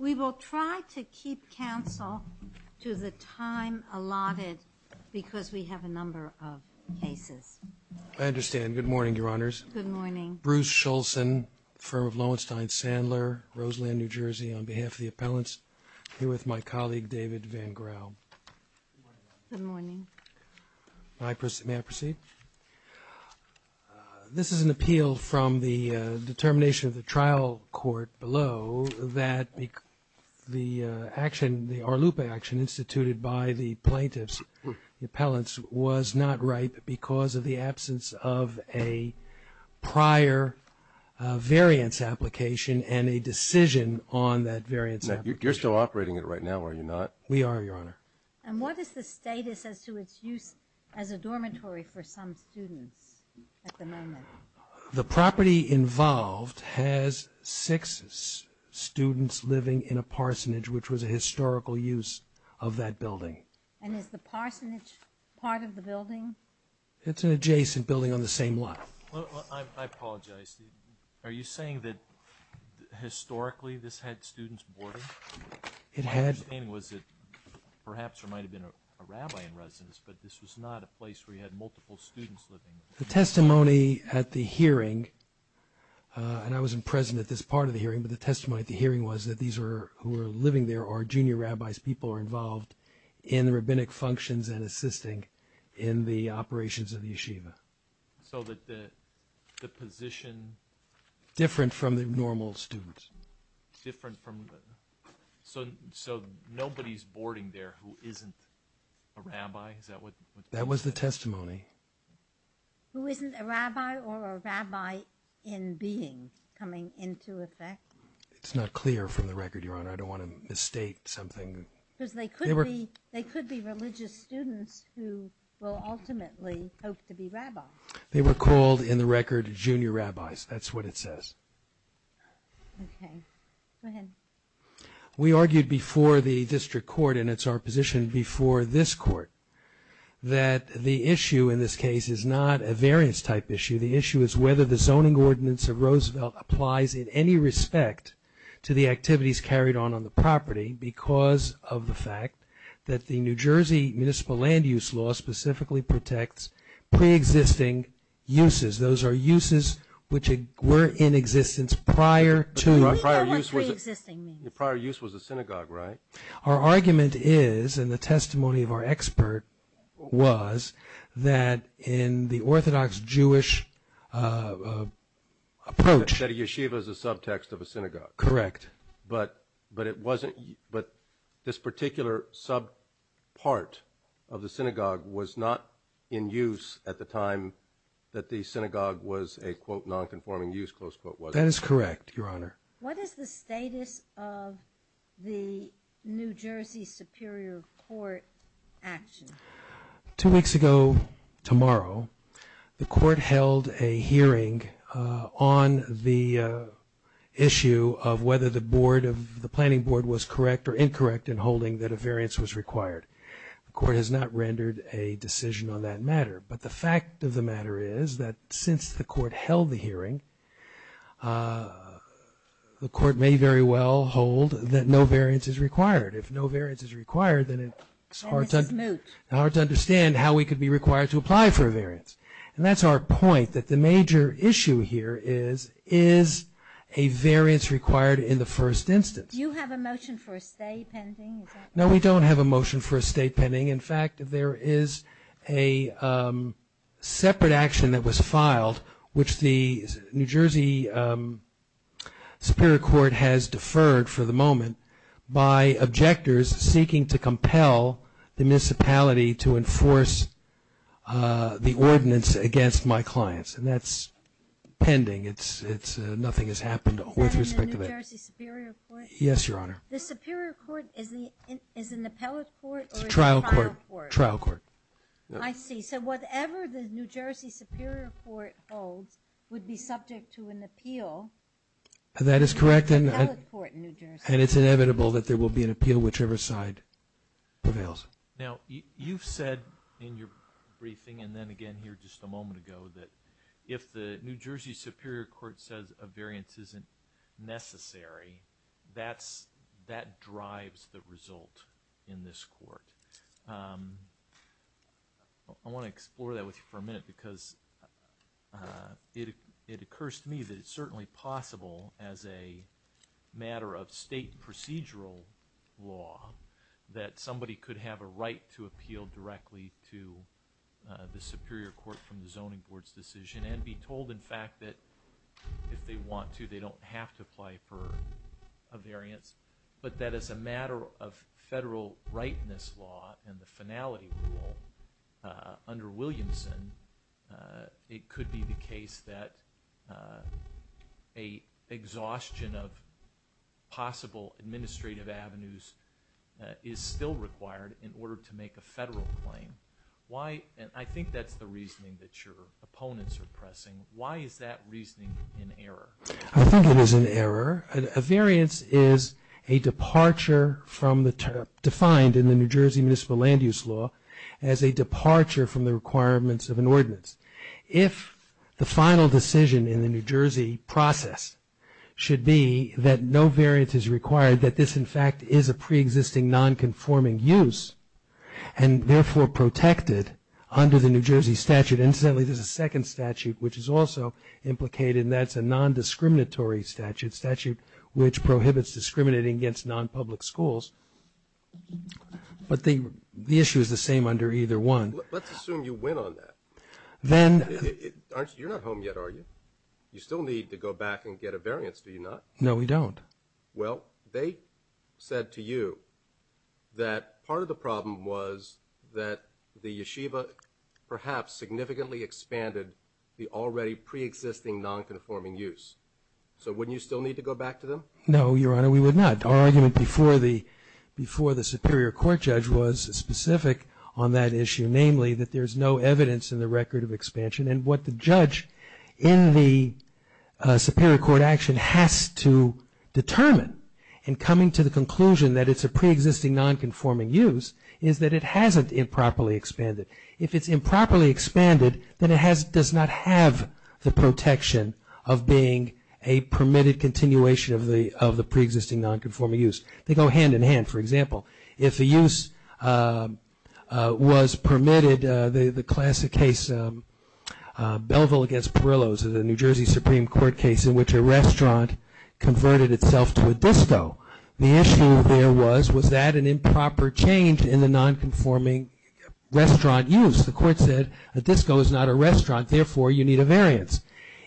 We will try to keep counsel to the time allotted because we have a number of cases. I understand. Good morning, Your Honors. Good morning. Bruce Shulzin, firm of Lowenstein Sandler, Roseland, New Jersey, on behalf of the appellants. I'm here with my colleague David Van Graal. Good morning. May I proceed? This is an appeal from the determination of the trial court below that the action, the Arlupe action instituted by the plaintiffs, the appellants, was not right because of the absence of a prior variance application and a decision on that variance application. You're still operating it right now, are you not? We are, Your Honor. And what is the status as to its use as a dormitory for some students at the moment? The property involved has six students living in a parsonage, which was a historical use of that building. And is the parsonage part of the building? It's an adjacent building on the same lot. I apologize. Are you saying that historically this had students boarding? It had. My understanding was that perhaps there might have been a rabbi in residence, but this was not a place where you had multiple students living. The testimony at the hearing, and I wasn't present at this part of the hearing, but the testimony at the hearing was that these who are living there are junior rabbis, people who are involved in the rabbinic functions and assisting in the operations of the yeshiva. So that the position— Different from the normal students. Different from—so nobody's boarding there who isn't a rabbi? Is that what— That was the testimony. Who isn't a rabbi or a rabbi-in-being coming into effect? It's not clear from the record, Your Honor. I don't want to misstate something. Because they could be religious students who will ultimately hope to be rabbis. They were called, in the record, junior rabbis. That's what it says. Okay. Go ahead. We argued before the district court, and it's our position before this court, that the issue in this case is not a variance-type issue. The issue is whether the zoning ordinance of Roosevelt applies in any respect to the activities carried on on the property because of the fact that the New Jersey Municipal Land Use Law specifically protects pre-existing uses. Those are uses which were in existence prior to— What do you mean by what pre-existing means? Prior use was a synagogue, right? Our argument is, and the testimony of our expert was, that in the Orthodox Jewish approach— You said a yeshiva is a subtext of a synagogue. Correct. But this particular sub-part of the synagogue was not in use at the time that the synagogue was a, quote, non-conforming use, close quote, was it? That is correct, Your Honor. What is the status of the New Jersey Superior Court action? Two weeks ago tomorrow, the court held a hearing on the issue of whether the planning board was correct or incorrect in holding that a variance was required. The court has not rendered a decision on that matter. But the fact of the matter is that since the court held the hearing, the court may very well hold that no variance is required. If no variance is required, then it's hard to understand how we could be required to apply for a variance. And that's our point, that the major issue here is, is a variance required in the first instance? Do you have a motion for a stay pending? No, we don't have a motion for a stay pending. In fact, there is a separate action that was filed, which the New Jersey Superior Court has deferred for the moment by objectors seeking to compel the municipality to enforce the ordinance against my clients. And that's pending. Nothing has happened with respect to that. Is that in the New Jersey Superior Court? Yes, Your Honor. The Superior Court is an appellate court or a trial court? It's a trial court. I see. So whatever the New Jersey Superior Court holds would be subject to an appeal. That is correct. It's an appellate court in New Jersey. And it's inevitable that there will be an appeal whichever side prevails. Now, you've said in your briefing and then again here just a moment ago that if the New Jersey Superior Court says a variance isn't necessary, that drives the result in this court. I want to explore that with you for a minute because it occurs to me that it's certainly possible as a matter of state procedural law that somebody could have a right to appeal directly to the Superior Court from the Zoning Board's decision and be told, in fact, that if they want to, they don't have to apply for a variance, but that as a matter of federal rightness law and the finality rule under Williamson, it could be the case that a exhaustion of possible administrative avenues is still required in order to make a federal claim. Why? And I think that's the reasoning that your opponents are pressing. Why is that reasoning an error? I think it is an error. A variance is a departure from the term defined in the New Jersey Municipal Land Use Law as a departure from the requirements of an ordinance. If the final decision in the New Jersey process should be that no variance is required, that this, in fact, is a preexisting non-conforming use and therefore protected under the New Jersey statute. Incidentally, there's a second statute which is also implicated and that's a non-discriminatory statute, statute which prohibits discriminating against non-public schools. But the issue is the same under either one. Let's assume you win on that. Then... You're not home yet, are you? You still need to go back and get a variance, do you not? No, we don't. Well, they said to you that part of the problem was that the yeshiva perhaps significantly expanded the already preexisting non-conforming use. So wouldn't you still need to go back to them? No, Your Honor, we would not. Our argument before the superior court judge was specific on that issue, namely that there's no evidence in the record of expansion and what the judge in the superior court action has to determine in coming to the conclusion that it's a preexisting non-conforming use is that it hasn't improperly expanded. If it's improperly expanded, then it does not have the protection of being a permitted continuation of the preexisting non-conforming use. They go hand-in-hand. For example, if the use was permitted, the classic case Belleville against Perillos, the New Jersey Supreme Court case in which a restaurant converted itself to a disco, the issue there was, was that an improper change in the non-conforming restaurant use? The court said a disco is not a restaurant, therefore you need a variance.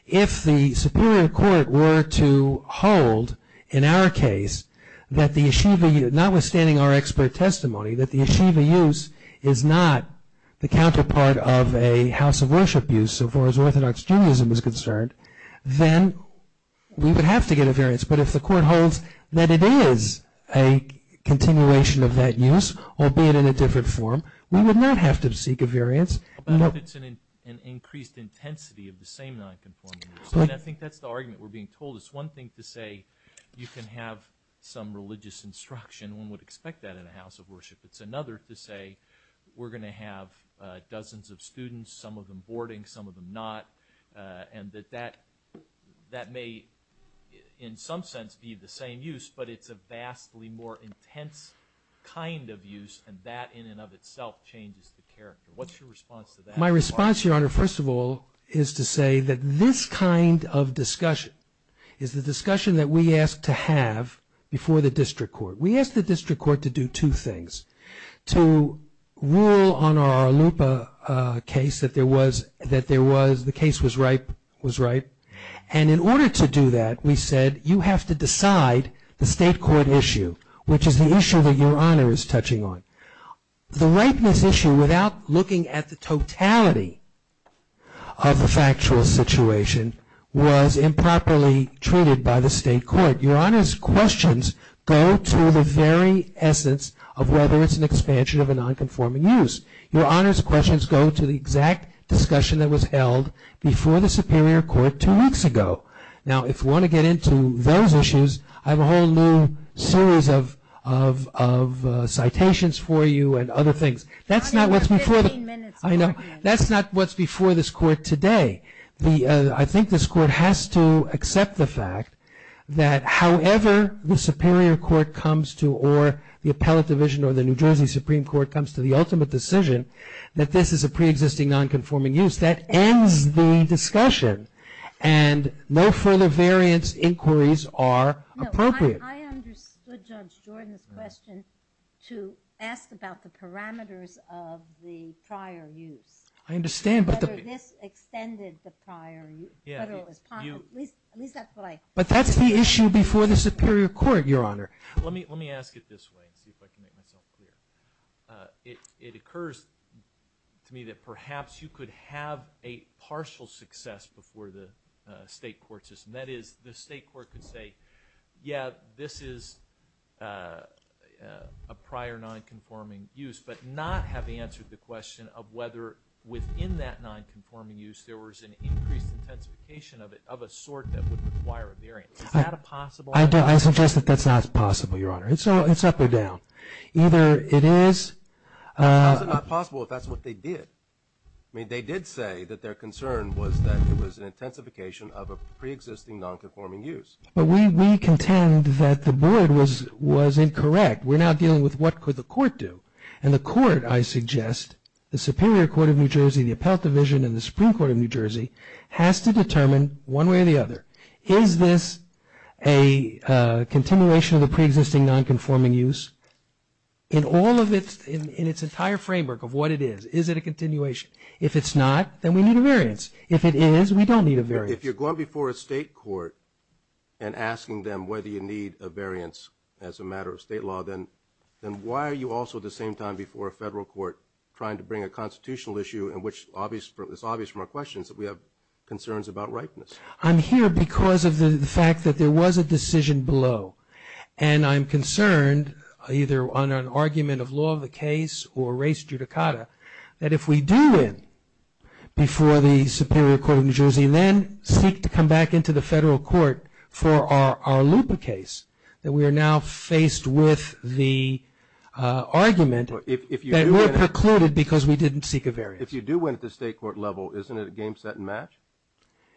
If the superior court were to hold in our case that the yeshiva, notwithstanding our expert testimony, that the yeshiva use is not the counterpart of a house of worship use as far as Orthodox Judaism is concerned, then we would have to get a variance. But if the court holds that it is a continuation of that use, albeit in a different form, we would not have to seek a variance. How about if it's an increased intensity of the same non-conforming use? I think that's the argument we're being told. It's one thing to say you can have some religious instruction. One would expect that in a house of worship. It's another to say we're going to have dozens of students, some of them boarding, some of them not, and that that may in some sense be the same use, but it's a vastly more intense kind of use, and that in and of itself changes the character. What's your response to that? My response, Your Honor, first of all, is to say that this kind of discussion is the discussion that we ask to have before the district court. We ask the district court to do two things, to rule on our Lupa case that the case was right, and in order to do that we said you have to decide the state court issue, which is the issue that Your Honor is touching on. The rapeness issue, without looking at the totality of the factual situation, was improperly treated by the state court. Your Honor's questions go to the very essence of whether it's an expansion of a non-conforming use. Your Honor's questions go to the exact discussion that was held before the superior court two weeks ago. Now, if you want to get into those issues, I have a whole new series of citations for you and other things. That's not what's before this court today. I think this court has to accept the fact that however the superior court comes to or the appellate division or the New Jersey Supreme Court comes to the ultimate decision that this is a preexisting non-conforming use, that ends the discussion and no further variance inquiries are appropriate. I understood Judge Jordan's question to ask about the parameters of the prior use. I understand. Whether this extended the prior use. But that's the issue before the superior court, Your Honor. Let me ask it this way and see if I can make myself clear. It occurs to me that perhaps you could have a partial success before the state court system. That is, the state court could say, yeah, this is a prior non-conforming use, but not have answered the question of whether within that non-conforming use there was an increased intensification of it of a sort that would require a variance. Is that a possible answer? I suggest that that's not possible, Your Honor. It's up or down. Either it is. How is it not possible if that's what they did? I mean, they did say that their concern was that it was an intensification of a preexisting non-conforming use. But we contend that the board was incorrect. We're now dealing with what could the court do. And the court, I suggest, the superior court of New Jersey, the appellate division, and the Supreme Court of New Jersey has to determine one way or the other, is this a continuation of the preexisting non-conforming use? In all of its entire framework of what it is, is it a continuation? If it's not, then we need a variance. If it is, we don't need a variance. If you're going before a state court and asking them whether you need a variance as a matter of state law, then why are you also at the same time before a federal court trying to bring a constitutional issue in which it's obvious from our questions that we have concerns about ripeness? I'm here because of the fact that there was a decision below. And I'm concerned, either on an argument of law of the case or race judicata, that if we do win before the superior court of New Jersey and then seek to come back into the federal court for our LUPA case, that we are now faced with the argument that we're precluded because we didn't seek a variance. If you do win at the state court level, isn't it a game, set, and match?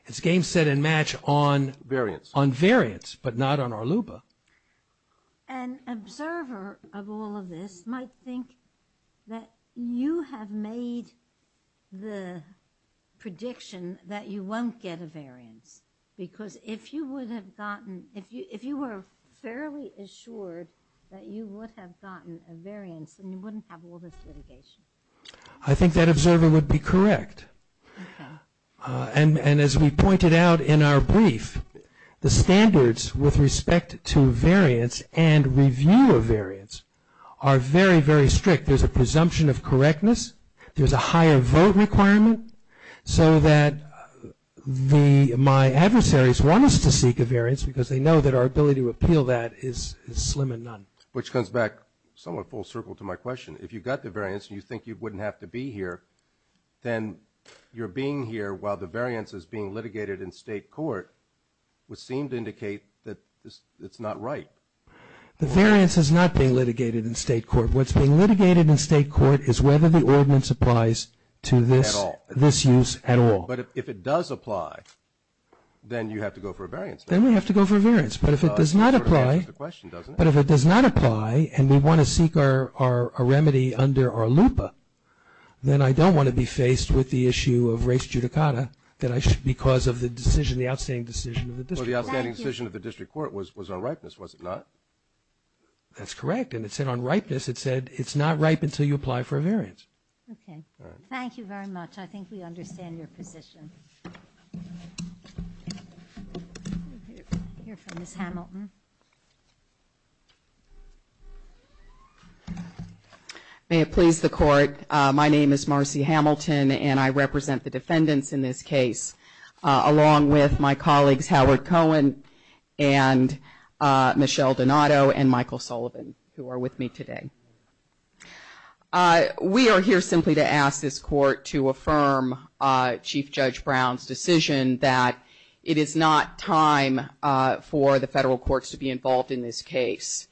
It's game, set, and match on variance, but not on our LUPA. An observer of all of this might think that you have made the prediction that you won't get a variance because if you were fairly assured that you would have gotten a variance, then you wouldn't have all this litigation. I think that observer would be correct. And as we pointed out in our brief, the standards with respect to variance and review of variance are very, very strict. There's a presumption of correctness. There's a higher vote requirement so that my adversaries want us to seek a variance because they know that our ability to appeal that is slim and none. Which comes back somewhat full circle to my question. If you got the variance and you think you wouldn't have to be here, then you're being here while the variance is being litigated in state court, which seemed to indicate that it's not right. The variance is not being litigated in state court. What's being litigated in state court is whether the ordinance applies to this use at all. But if it does apply, then you have to go for a variance. Then we have to go for a variance. That sort of answers the question, doesn't it? Then I don't want to be faced with the issue of race judicata because of the decision, the outstanding decision of the district. Well, the outstanding decision of the district court was on ripeness, was it not? That's correct. And it said on ripeness, it said it's not ripe until you apply for a variance. Okay. All right. Thank you very much. I think we understand your position. I hear from Ms. Hamilton. May it please the court, my name is Marcy Hamilton, and I represent the defendants in this case, along with my colleagues Howard Cohen and Michelle Donato and Michael Sullivan, who are with me today. We are here simply to ask this court to affirm Chief Judge Brown's decision that it is not time for the federal courts to be involved in this case.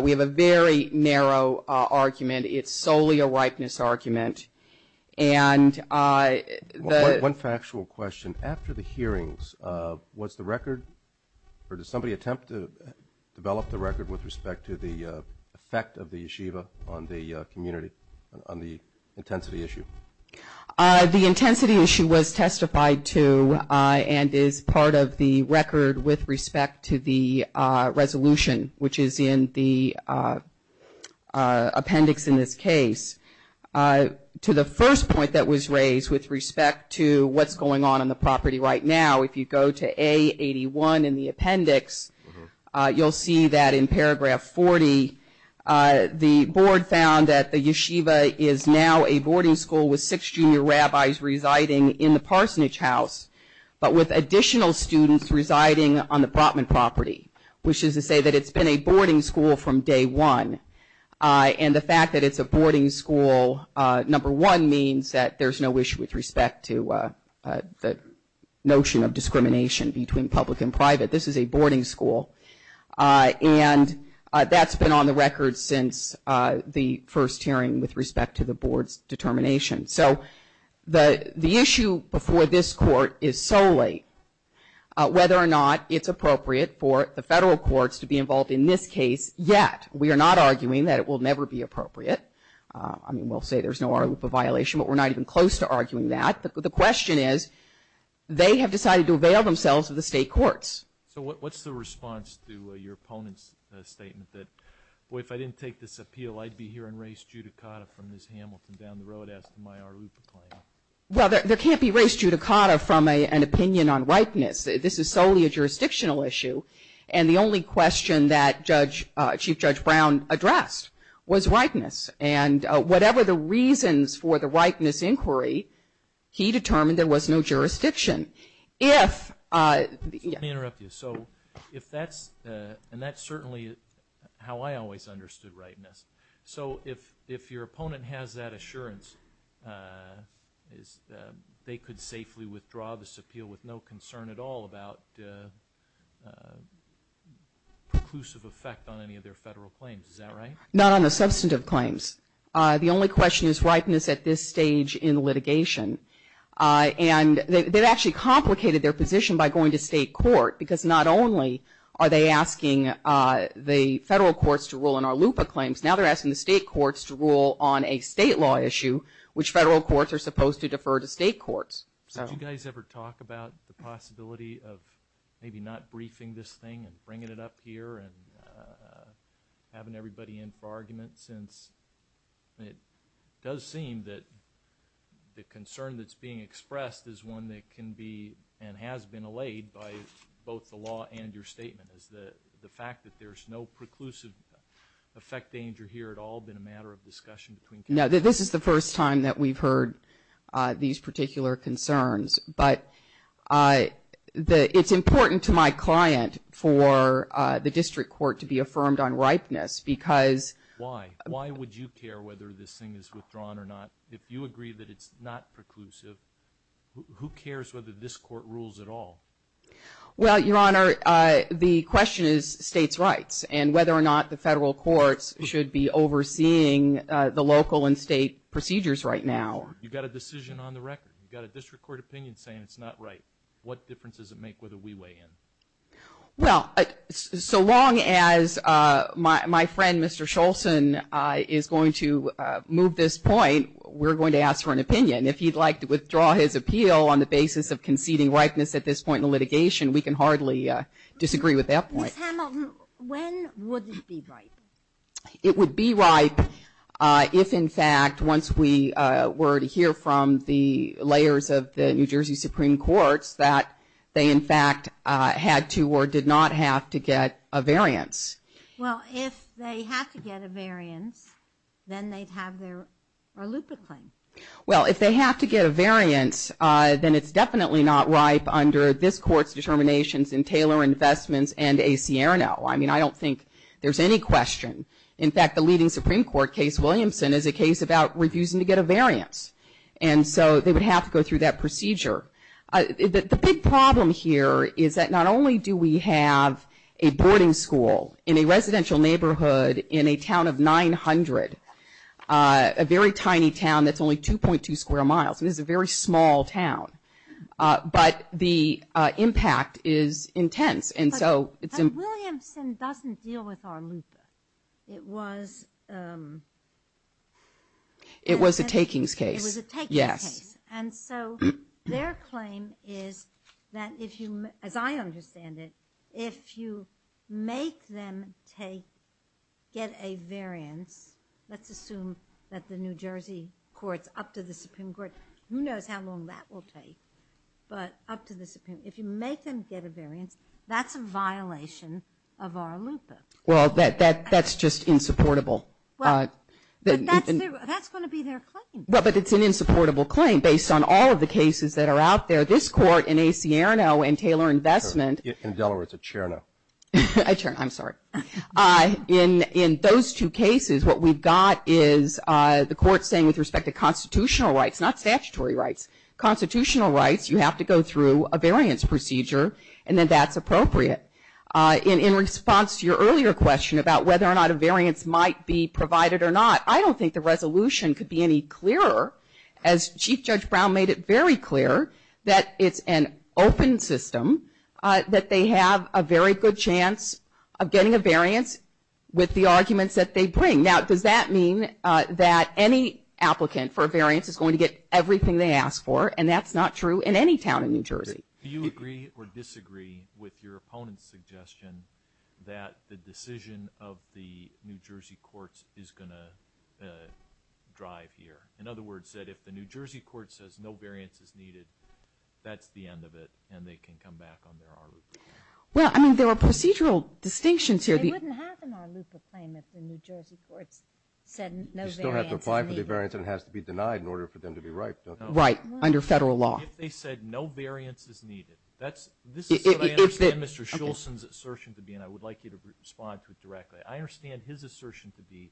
We have a very narrow argument. It's solely a ripeness argument. One factual question. After the hearings, was the record, or did somebody attempt to develop the record with respect to the effect of the JIVA on the community, on the intensity issue? The intensity issue was testified to and is part of the record with respect to the resolution, which is in the appendix in this case. To the first point that was raised with respect to what's going on in the property right now, if you go to A81 in the appendix, you'll see that in paragraph 40, the board found that the Yeshiva is now a boarding school with six junior rabbis residing in the Parsonage House, but with additional students residing on the Brotman property, which is to say that it's been a boarding school from day one. And the fact that it's a boarding school, number one, means that there's no issue with respect to the notion of discrimination between public and private. This is a boarding school. And that's been on the record since the first hearing with respect to the board's determination. So the issue before this court is solely whether or not it's appropriate for the federal courts to be involved in this case yet. We are not arguing that it will never be appropriate. I mean, we'll say there's no oral loop of violation, but we're not even close to arguing that. The question is, they have decided to avail themselves of the state courts. So what's the response to your opponent's statement that, boy, if I didn't take this appeal, I'd be hearing race judicata from Ms. Hamilton down the road as to my oral loop of claim? Well, there can't be race judicata from an opinion on whiteness. This is solely a jurisdictional issue. And the only question that Chief Judge Brown addressed was whiteness. And whatever the reasons for the whiteness inquiry, he determined there was no jurisdiction. Let me interrupt you. And that's certainly how I always understood whiteness. So if your opponent has that assurance, they could safely withdraw this appeal with no concern at all about preclusive effect on any of their federal claims. Is that right? Not on the substantive claims. The only question is whiteness at this stage in litigation. And they've actually complicated their position by going to state court, because not only are they asking the federal courts to rule on our loop of claims, now they're asking the state courts to rule on a state law issue, which federal courts are supposed to defer to state courts. Did you guys ever talk about the possibility of maybe not briefing this thing and bringing it up here and having everybody in for argument since it does seem that the concern that's being expressed is one that can be and has been allayed by both the law and your statement, is the fact that there's no preclusive effect danger here at all been a matter of discussion between counsel? No, this is the first time that we've heard these particular concerns. But it's important to my client for the district court to be affirmed on ripeness, because. Why? Why would you care whether this thing is withdrawn or not if you agree that it's not preclusive? Who cares whether this court rules at all? Well, Your Honor, the question is states' rights and whether or not the federal courts should be overseeing the local and state procedures right now. You've got a decision on the record. You've got a district court opinion saying it's not right. What difference does it make whether we weigh in? Well, so long as my friend, Mr. Scholson, is going to move this point, we're going to ask for an opinion. If he'd like to withdraw his appeal on the basis of conceding ripeness at this point in litigation, we can hardly disagree with that point. Ms. Hamilton, when would it be ripe? It would be ripe if, in fact, once we were to hear from the layers of the New Jersey Supreme Courts that they, in fact, had to or did not have to get a variance. Well, if they had to get a variance, then they'd have their Arlupa claim. Well, if they have to get a variance, then it's definitely not ripe under this court's determinations in Taylor Investments and A.C. Arano. I mean, I don't think there's any question. In fact, the leading Supreme Court case, Williamson, is a case about refusing to get a variance. And so they would have to go through that procedure. The big problem here is that not only do we have a boarding school in a residential neighborhood in a town of 900, a very tiny town that's only 2.2 square miles. This is a very small town. But the impact is intense. But Williamson doesn't deal with Arlupa. It was a takings case. It was a takings case. Yes. And so their claim is that, as I understand it, if you make them get a variance, let's assume that the New Jersey courts up to the Supreme Court, who knows how long that will take, but up to the Supreme. If you make them get a variance, that's a violation of Arlupa. Well, that's just insupportable. But that's going to be their claim. But it's an insupportable claim based on all of the cases that are out there. This court in A.C. Arano and Taylor Investment. In Delaware, it's a Cherno. A Cherno, I'm sorry. In those two cases, what we've got is the court saying, with respect to constitutional rights, not statutory rights, constitutional rights, you have to go through a variance procedure, and then that's appropriate. In response to your earlier question about whether or not a variance might be provided or not, I don't think the resolution could be any clearer, as Chief Judge Brown made it very clear, that it's an open system, that they have a very good chance of getting a variance with the arguments that they bring. Now, does that mean that any applicant for a variance is going to get everything they ask for, and that's not true in any town in New Jersey? Do you agree or disagree with your opponent's suggestion that the decision of the New Jersey courts is going to drive here? In other words, that if the New Jersey court says no variance is needed, that's the end of it and they can come back on their ARLUPA claim? Well, I mean, there are procedural distinctions here. They wouldn't have an ARLUPA claim if the New Jersey courts said no variance is needed. You still have to apply for the variance and it has to be denied in order for them to be right, don't you? Right, under federal law. If they said no variance is needed. This is what I understand Mr. Schultz's assertion to be, and I would like you to respond to it directly. I understand his assertion to be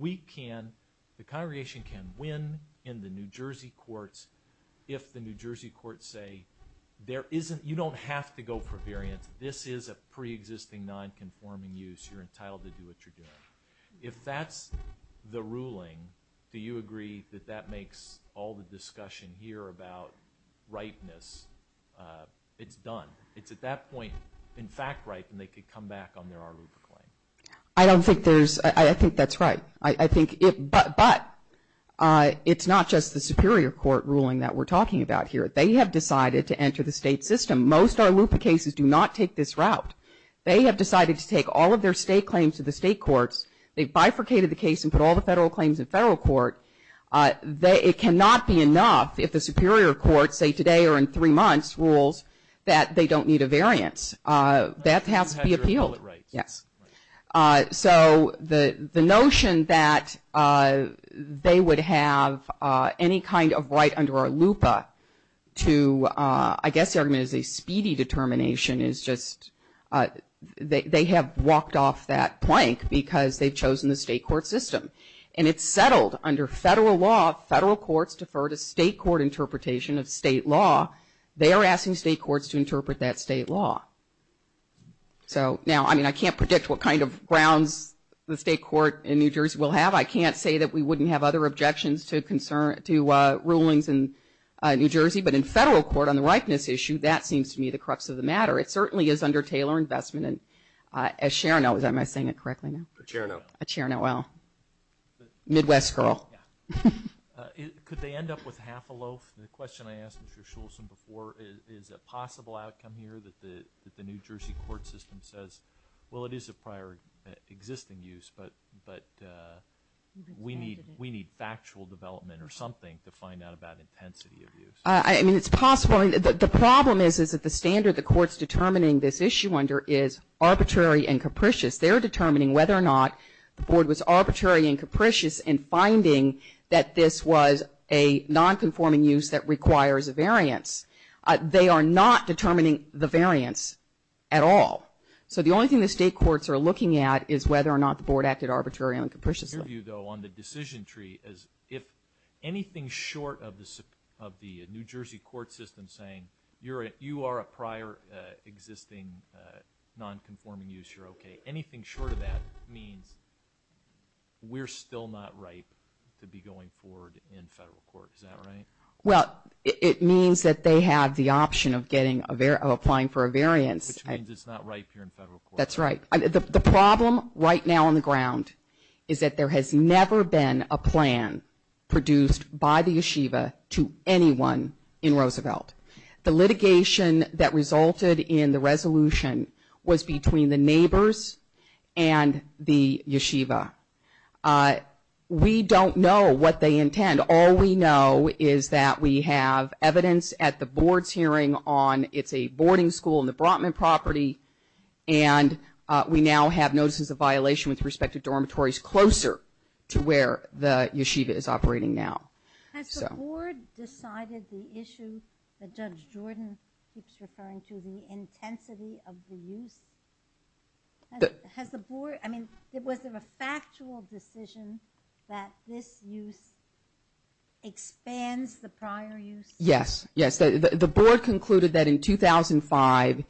the congregation can win in the New Jersey courts if the New Jersey courts say you don't have to go for variance. This is a preexisting nonconforming use. You're entitled to do what you're doing. If that's the ruling, do you agree that that makes all the discussion here about ripeness? It's done. It's at that point in fact right and they could come back on their ARLUPA claim. I don't think there's – I think that's right. But it's not just the superior court ruling that we're talking about here. They have decided to enter the state system. Most ARLUPA cases do not take this route. They have decided to take all of their state claims to the state courts. They've bifurcated the case and put all the federal claims in federal court. It cannot be enough if the superior court, say today or in three months, rules that they don't need a variance. That has to be appealed. So the notion that they would have any kind of right under ARLUPA to – they have walked off that plank because they've chosen the state court system. And it's settled. Under federal law, federal courts defer to state court interpretation of state law. They are asking state courts to interpret that state law. So now, I mean, I can't predict what kind of grounds the state court in New Jersey will have. I can't say that we wouldn't have other objections to rulings in New Jersey. But in federal court on the ripeness issue, that seems to me the crux of the matter. It certainly is under Taylor Investment. And as Chair – am I saying it correctly now? Chair now. Chair now. Well, Midwest girl. Could they end up with half a loaf? The question I asked Mr. Schultz before is a possible outcome here that the New Jersey court system says, well, it is a prior existing use, but we need factual development or something to find out about intensity of use. I mean, it's possible. Well, I mean, the problem is that the standard the court's determining this issue under is arbitrary and capricious. They're determining whether or not the board was arbitrary and capricious in finding that this was a nonconforming use that requires a variance. They are not determining the variance at all. So the only thing the state courts are looking at is whether or not the board acted arbitrarily and capriciously. My view, though, on the decision tree is if anything short of the New Jersey court system saying, you are a prior existing nonconforming use, you're okay, anything short of that means we're still not ripe to be going forward in federal court. Is that right? Well, it means that they have the option of applying for a variance. Which means it's not ripe here in federal court. That's right. The problem right now on the ground is that there has never been a plan produced by the yeshiva to anyone in Roosevelt. The litigation that resulted in the resolution was between the neighbors and the yeshiva. We don't know what they intend. All we know is that we have evidence at the board's hearing on it's a boarding school on the Brotman property and we now have notices of violation with respect to dormitories closer to where the yeshiva is operating now. Has the board decided the issue that Judge Jordan keeps referring to, the intensity of the use? Has the board, I mean, was there a factual decision that this use expands the prior use? Yes. Yes, the board concluded that in 2005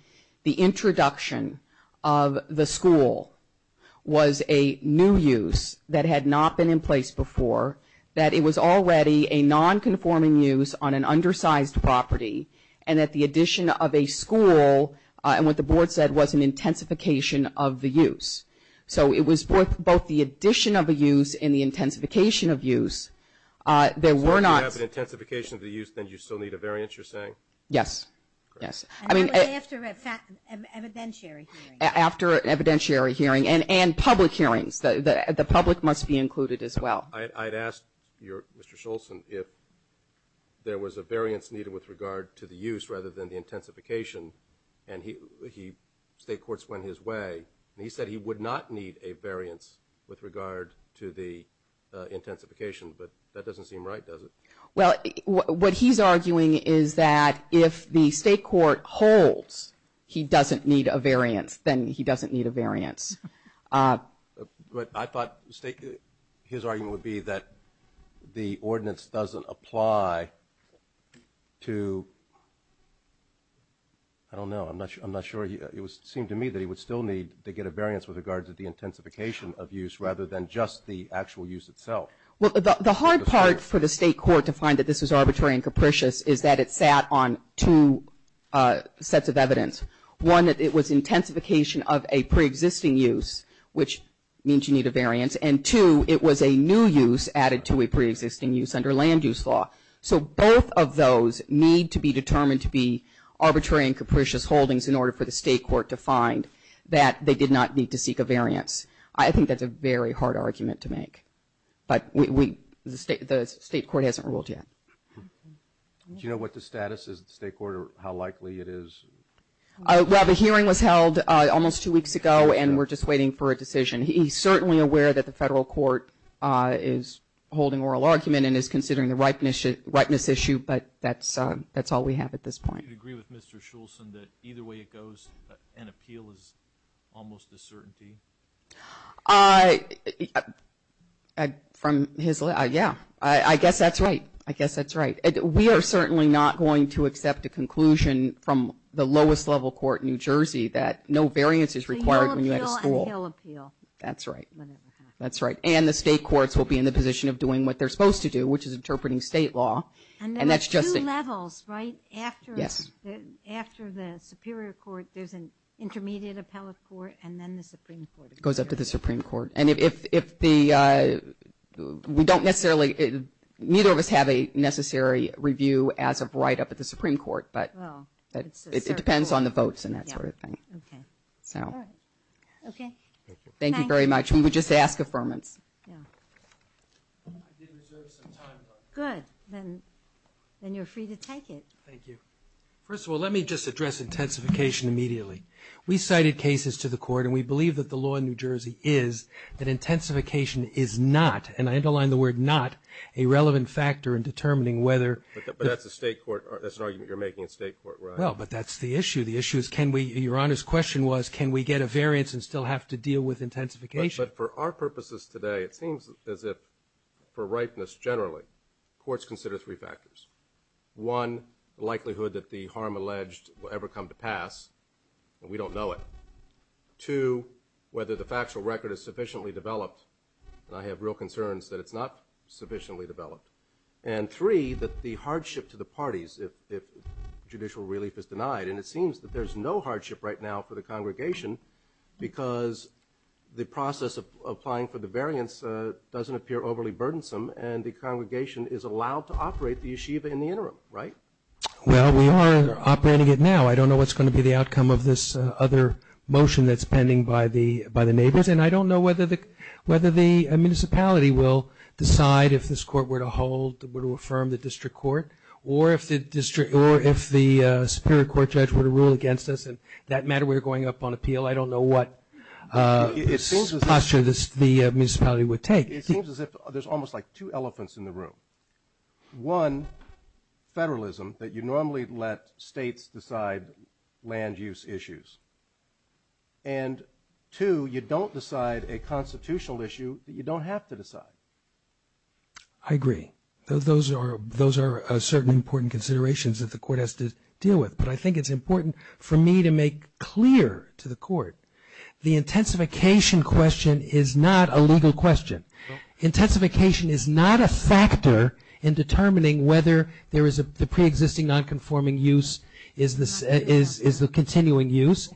the introduction of the school was a new use that had not been in place before, that it was already a non-conforming use on an undersized property and that the addition of a school and what the board said was an intensification of the use. So it was both the addition of a use and the intensification of use. So if you have an intensification of the use, then you still need a variance, you're saying? Yes. Yes. And that was after an evidentiary hearing. After an evidentiary hearing and public hearings. The public must be included as well. I'd ask you, Mr. Scholz, if there was a variance needed with regard to the use rather than the intensification and state courts went his way and he said he would not need a variance with regard to the intensification, but that doesn't seem right, does it? Well, what he's arguing is that if the state court holds he doesn't need a variance, then he doesn't need a variance. But I thought his argument would be that the ordinance doesn't apply to, I don't know, I'm not sure, it seemed to me that he would still need to get a variance with regards to the intensification of use rather than just the actual use itself. Well, the hard part for the state court to find that this was arbitrary and capricious is that it sat on two sets of evidence. One, that it was intensification of a preexisting use, which means you need a variance, and two, it was a new use added to a preexisting use under land use law. So both of those need to be determined to be arbitrary and capricious holdings in order for the state court to find that they did not need to seek a variance. I think that's a very hard argument to make, but the state court hasn't ruled yet. Do you know what the status is at the state court or how likely it is? Well, the hearing was held almost two weeks ago, and we're just waiting for a decision. He's certainly aware that the federal court is holding oral argument and is considering the ripeness issue, but that's all we have at this point. Do you agree with Mr. Shulzen that either way it goes, an appeal is almost a certainty? Yeah, I guess that's right. I guess that's right. We are certainly not going to accept a conclusion from the lowest level court in New Jersey that no variance is required when you have a school. So he'll appeal and he'll appeal. That's right. And the state courts will be in the position of doing what they're supposed to do, which is interpreting state law. And there are two levels, right? Yes. After the superior court, there's an intermediate appellate court, and then the supreme court. It goes up to the supreme court. And if the – we don't necessarily – neither of us have a necessary review as of right up at the supreme court, but it depends on the votes and that sort of thing. Yeah. Okay. So. All right. Okay. Thank you. Thank you very much. We would just ask affirmance. Yeah. I did reserve some time, but. Good. Then you're free to take it. Thank you. First of all, let me just address intensification immediately. We cited cases to the court, and we believe that the law in New Jersey is that intensification is not, and I underline the word not, a relevant factor in determining whether. But that's a state court. That's an argument you're making in state court, right? Well, but that's the issue. The issue is can we – your Honor's question was can we get a variance and still have to deal with intensification. But for our purposes today, it seems as if for ripeness generally, courts consider three factors. One, the likelihood that the harm alleged will ever come to pass, and we don't know it. Two, whether the factual record is sufficiently developed, and I have real concerns that it's not sufficiently developed. And three, that the hardship to the parties if judicial relief is denied, and it seems that there's no hardship right now for the congregation because the process of applying for the variance doesn't appear overly burdensome, and the congregation is allowed to operate the yeshiva in the interim, right? Well, we are operating it now. I don't know what's going to be the outcome of this other motion that's pending by the neighbors, and I don't know whether the municipality will decide if this court were to hold, were to affirm the district court, or if the district, or if the superior court judge were to rule against us. And that matter we're going up on appeal. I don't know what posture the municipality would take. It seems as if there's almost like two elephants in the room. One, federalism, that you normally let states decide land use issues. And two, you don't decide a constitutional issue that you don't have to decide. I agree. Those are certain important considerations that the court has to deal with. But I think it's important for me to make clear to the court, the intensification question is not a legal question. Intensification is not a factor in determining whether there is a preexisting nonconforming use is the continuing use.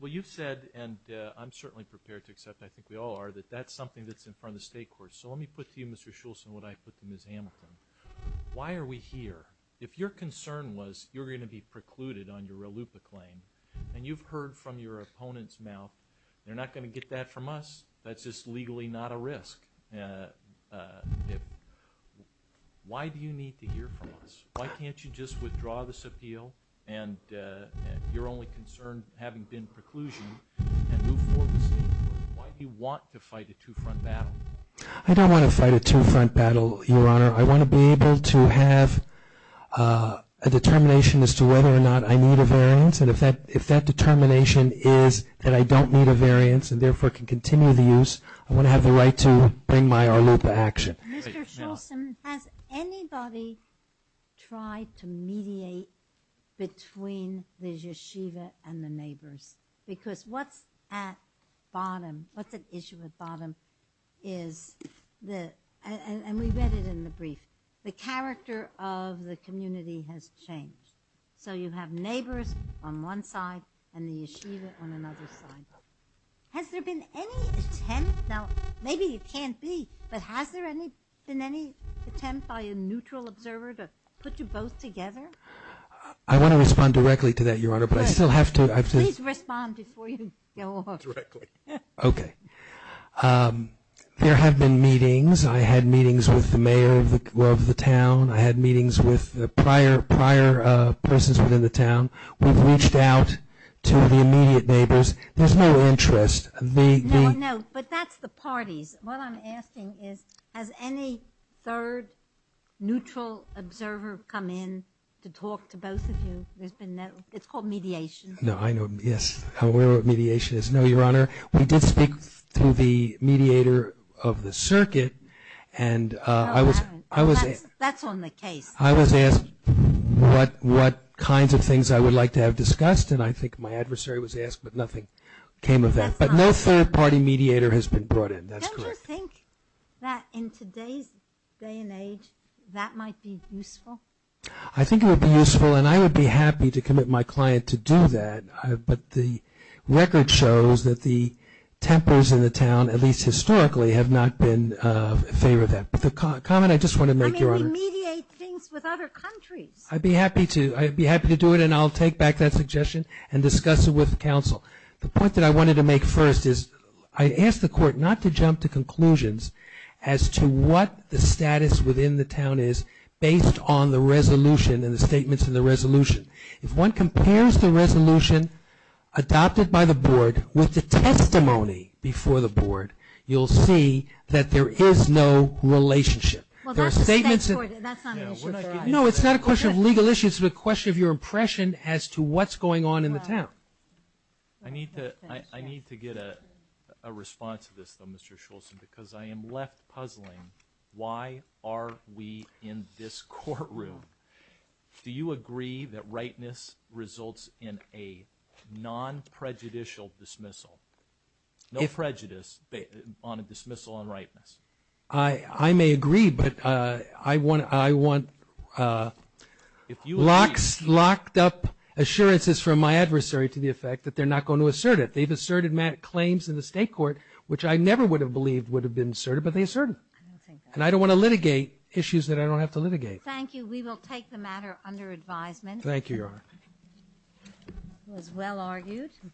Well, you've said, and I'm certainly prepared to accept, I think we all are, that that's something that's in front of the state courts. So let me put to you, Mr. Schultz, and what I put to Ms. Hamilton. Why are we here? If your concern was you're going to be precluded on your ALUPA claim, and you've heard from your opponent's mouth, they're not going to get that from us. That's just legally not a risk. Why do you need to hear from us? Why can't you just withdraw this appeal and your only concern having been preclusion and move forward with the state court? Why do you want to fight a two-front battle? I don't want to fight a two-front battle, Your Honor. I want to be able to have a determination as to whether or not I need a variance, and if that determination is that I don't need a variance and therefore can continue the use, I want to have the right to bring my ALUPA action. Mr. Schultz, has anybody tried to mediate between the yeshiva and the neighbors? Because what's at bottom, what's at issue at bottom is, and we read it in the brief, the character of the community has changed. So you have neighbors on one side and the yeshiva on another side. Has there been any attempt? Now, maybe it can't be, but has there been any attempt by a neutral observer to put you both together? I want to respond directly to that, Your Honor, but I still have to. Please respond before you go off. Okay. There have been meetings. I had meetings with the mayor of the town. I had meetings with prior persons within the town. We've reached out to the immediate neighbors. There's no interest. No, no, but that's the parties. What I'm asking is, has any third neutral observer come in to talk to both of you? It's called mediation. No, I know. Yes. I'm aware of what mediation is. No, Your Honor, we did speak to the mediator of the circuit. That's on the case. I was asked what kinds of things I would like to have discussed, and I think my adversary was asked, but nothing came of that. But no third-party mediator has been brought in. That's correct. Don't you think that in today's day and age that might be useful? I think it would be useful, and I would be happy to commit my client to do that. But the record shows that the tempers in the town, at least historically, have not been in favor of that. But the comment I just want to make, Your Honor. I mean, we mediate things with other countries. I'd be happy to. I'd be happy to do it, and I'll take back that suggestion and discuss it with counsel. The point that I wanted to make first is I asked the court not to jump to conclusions as to what the status within the town is based on the resolution and the statements in the resolution. If one compares the resolution adopted by the board with the testimony before the board, you'll see that there is no relationship. Well, that's a state court. That's not an issue for us. No, it's not a question of legal issues. It's a question of your impression as to what's going on in the town. I need to get a response to this, though, Mr. Schultz, because I am left puzzling why are we in this courtroom. Do you agree that rightness results in a non-prejudicial dismissal, no prejudice on a dismissal on rightness? I may agree, but I want locked up assurances from my adversary to the effect that they're not going to assert it. They've asserted claims in the state court, which I never would have believed would have been asserted, but they asserted them. And I don't want to litigate issues that I don't have to litigate. Thank you. We will take the matter under advisement. Thank you, Your Honor. It was well argued.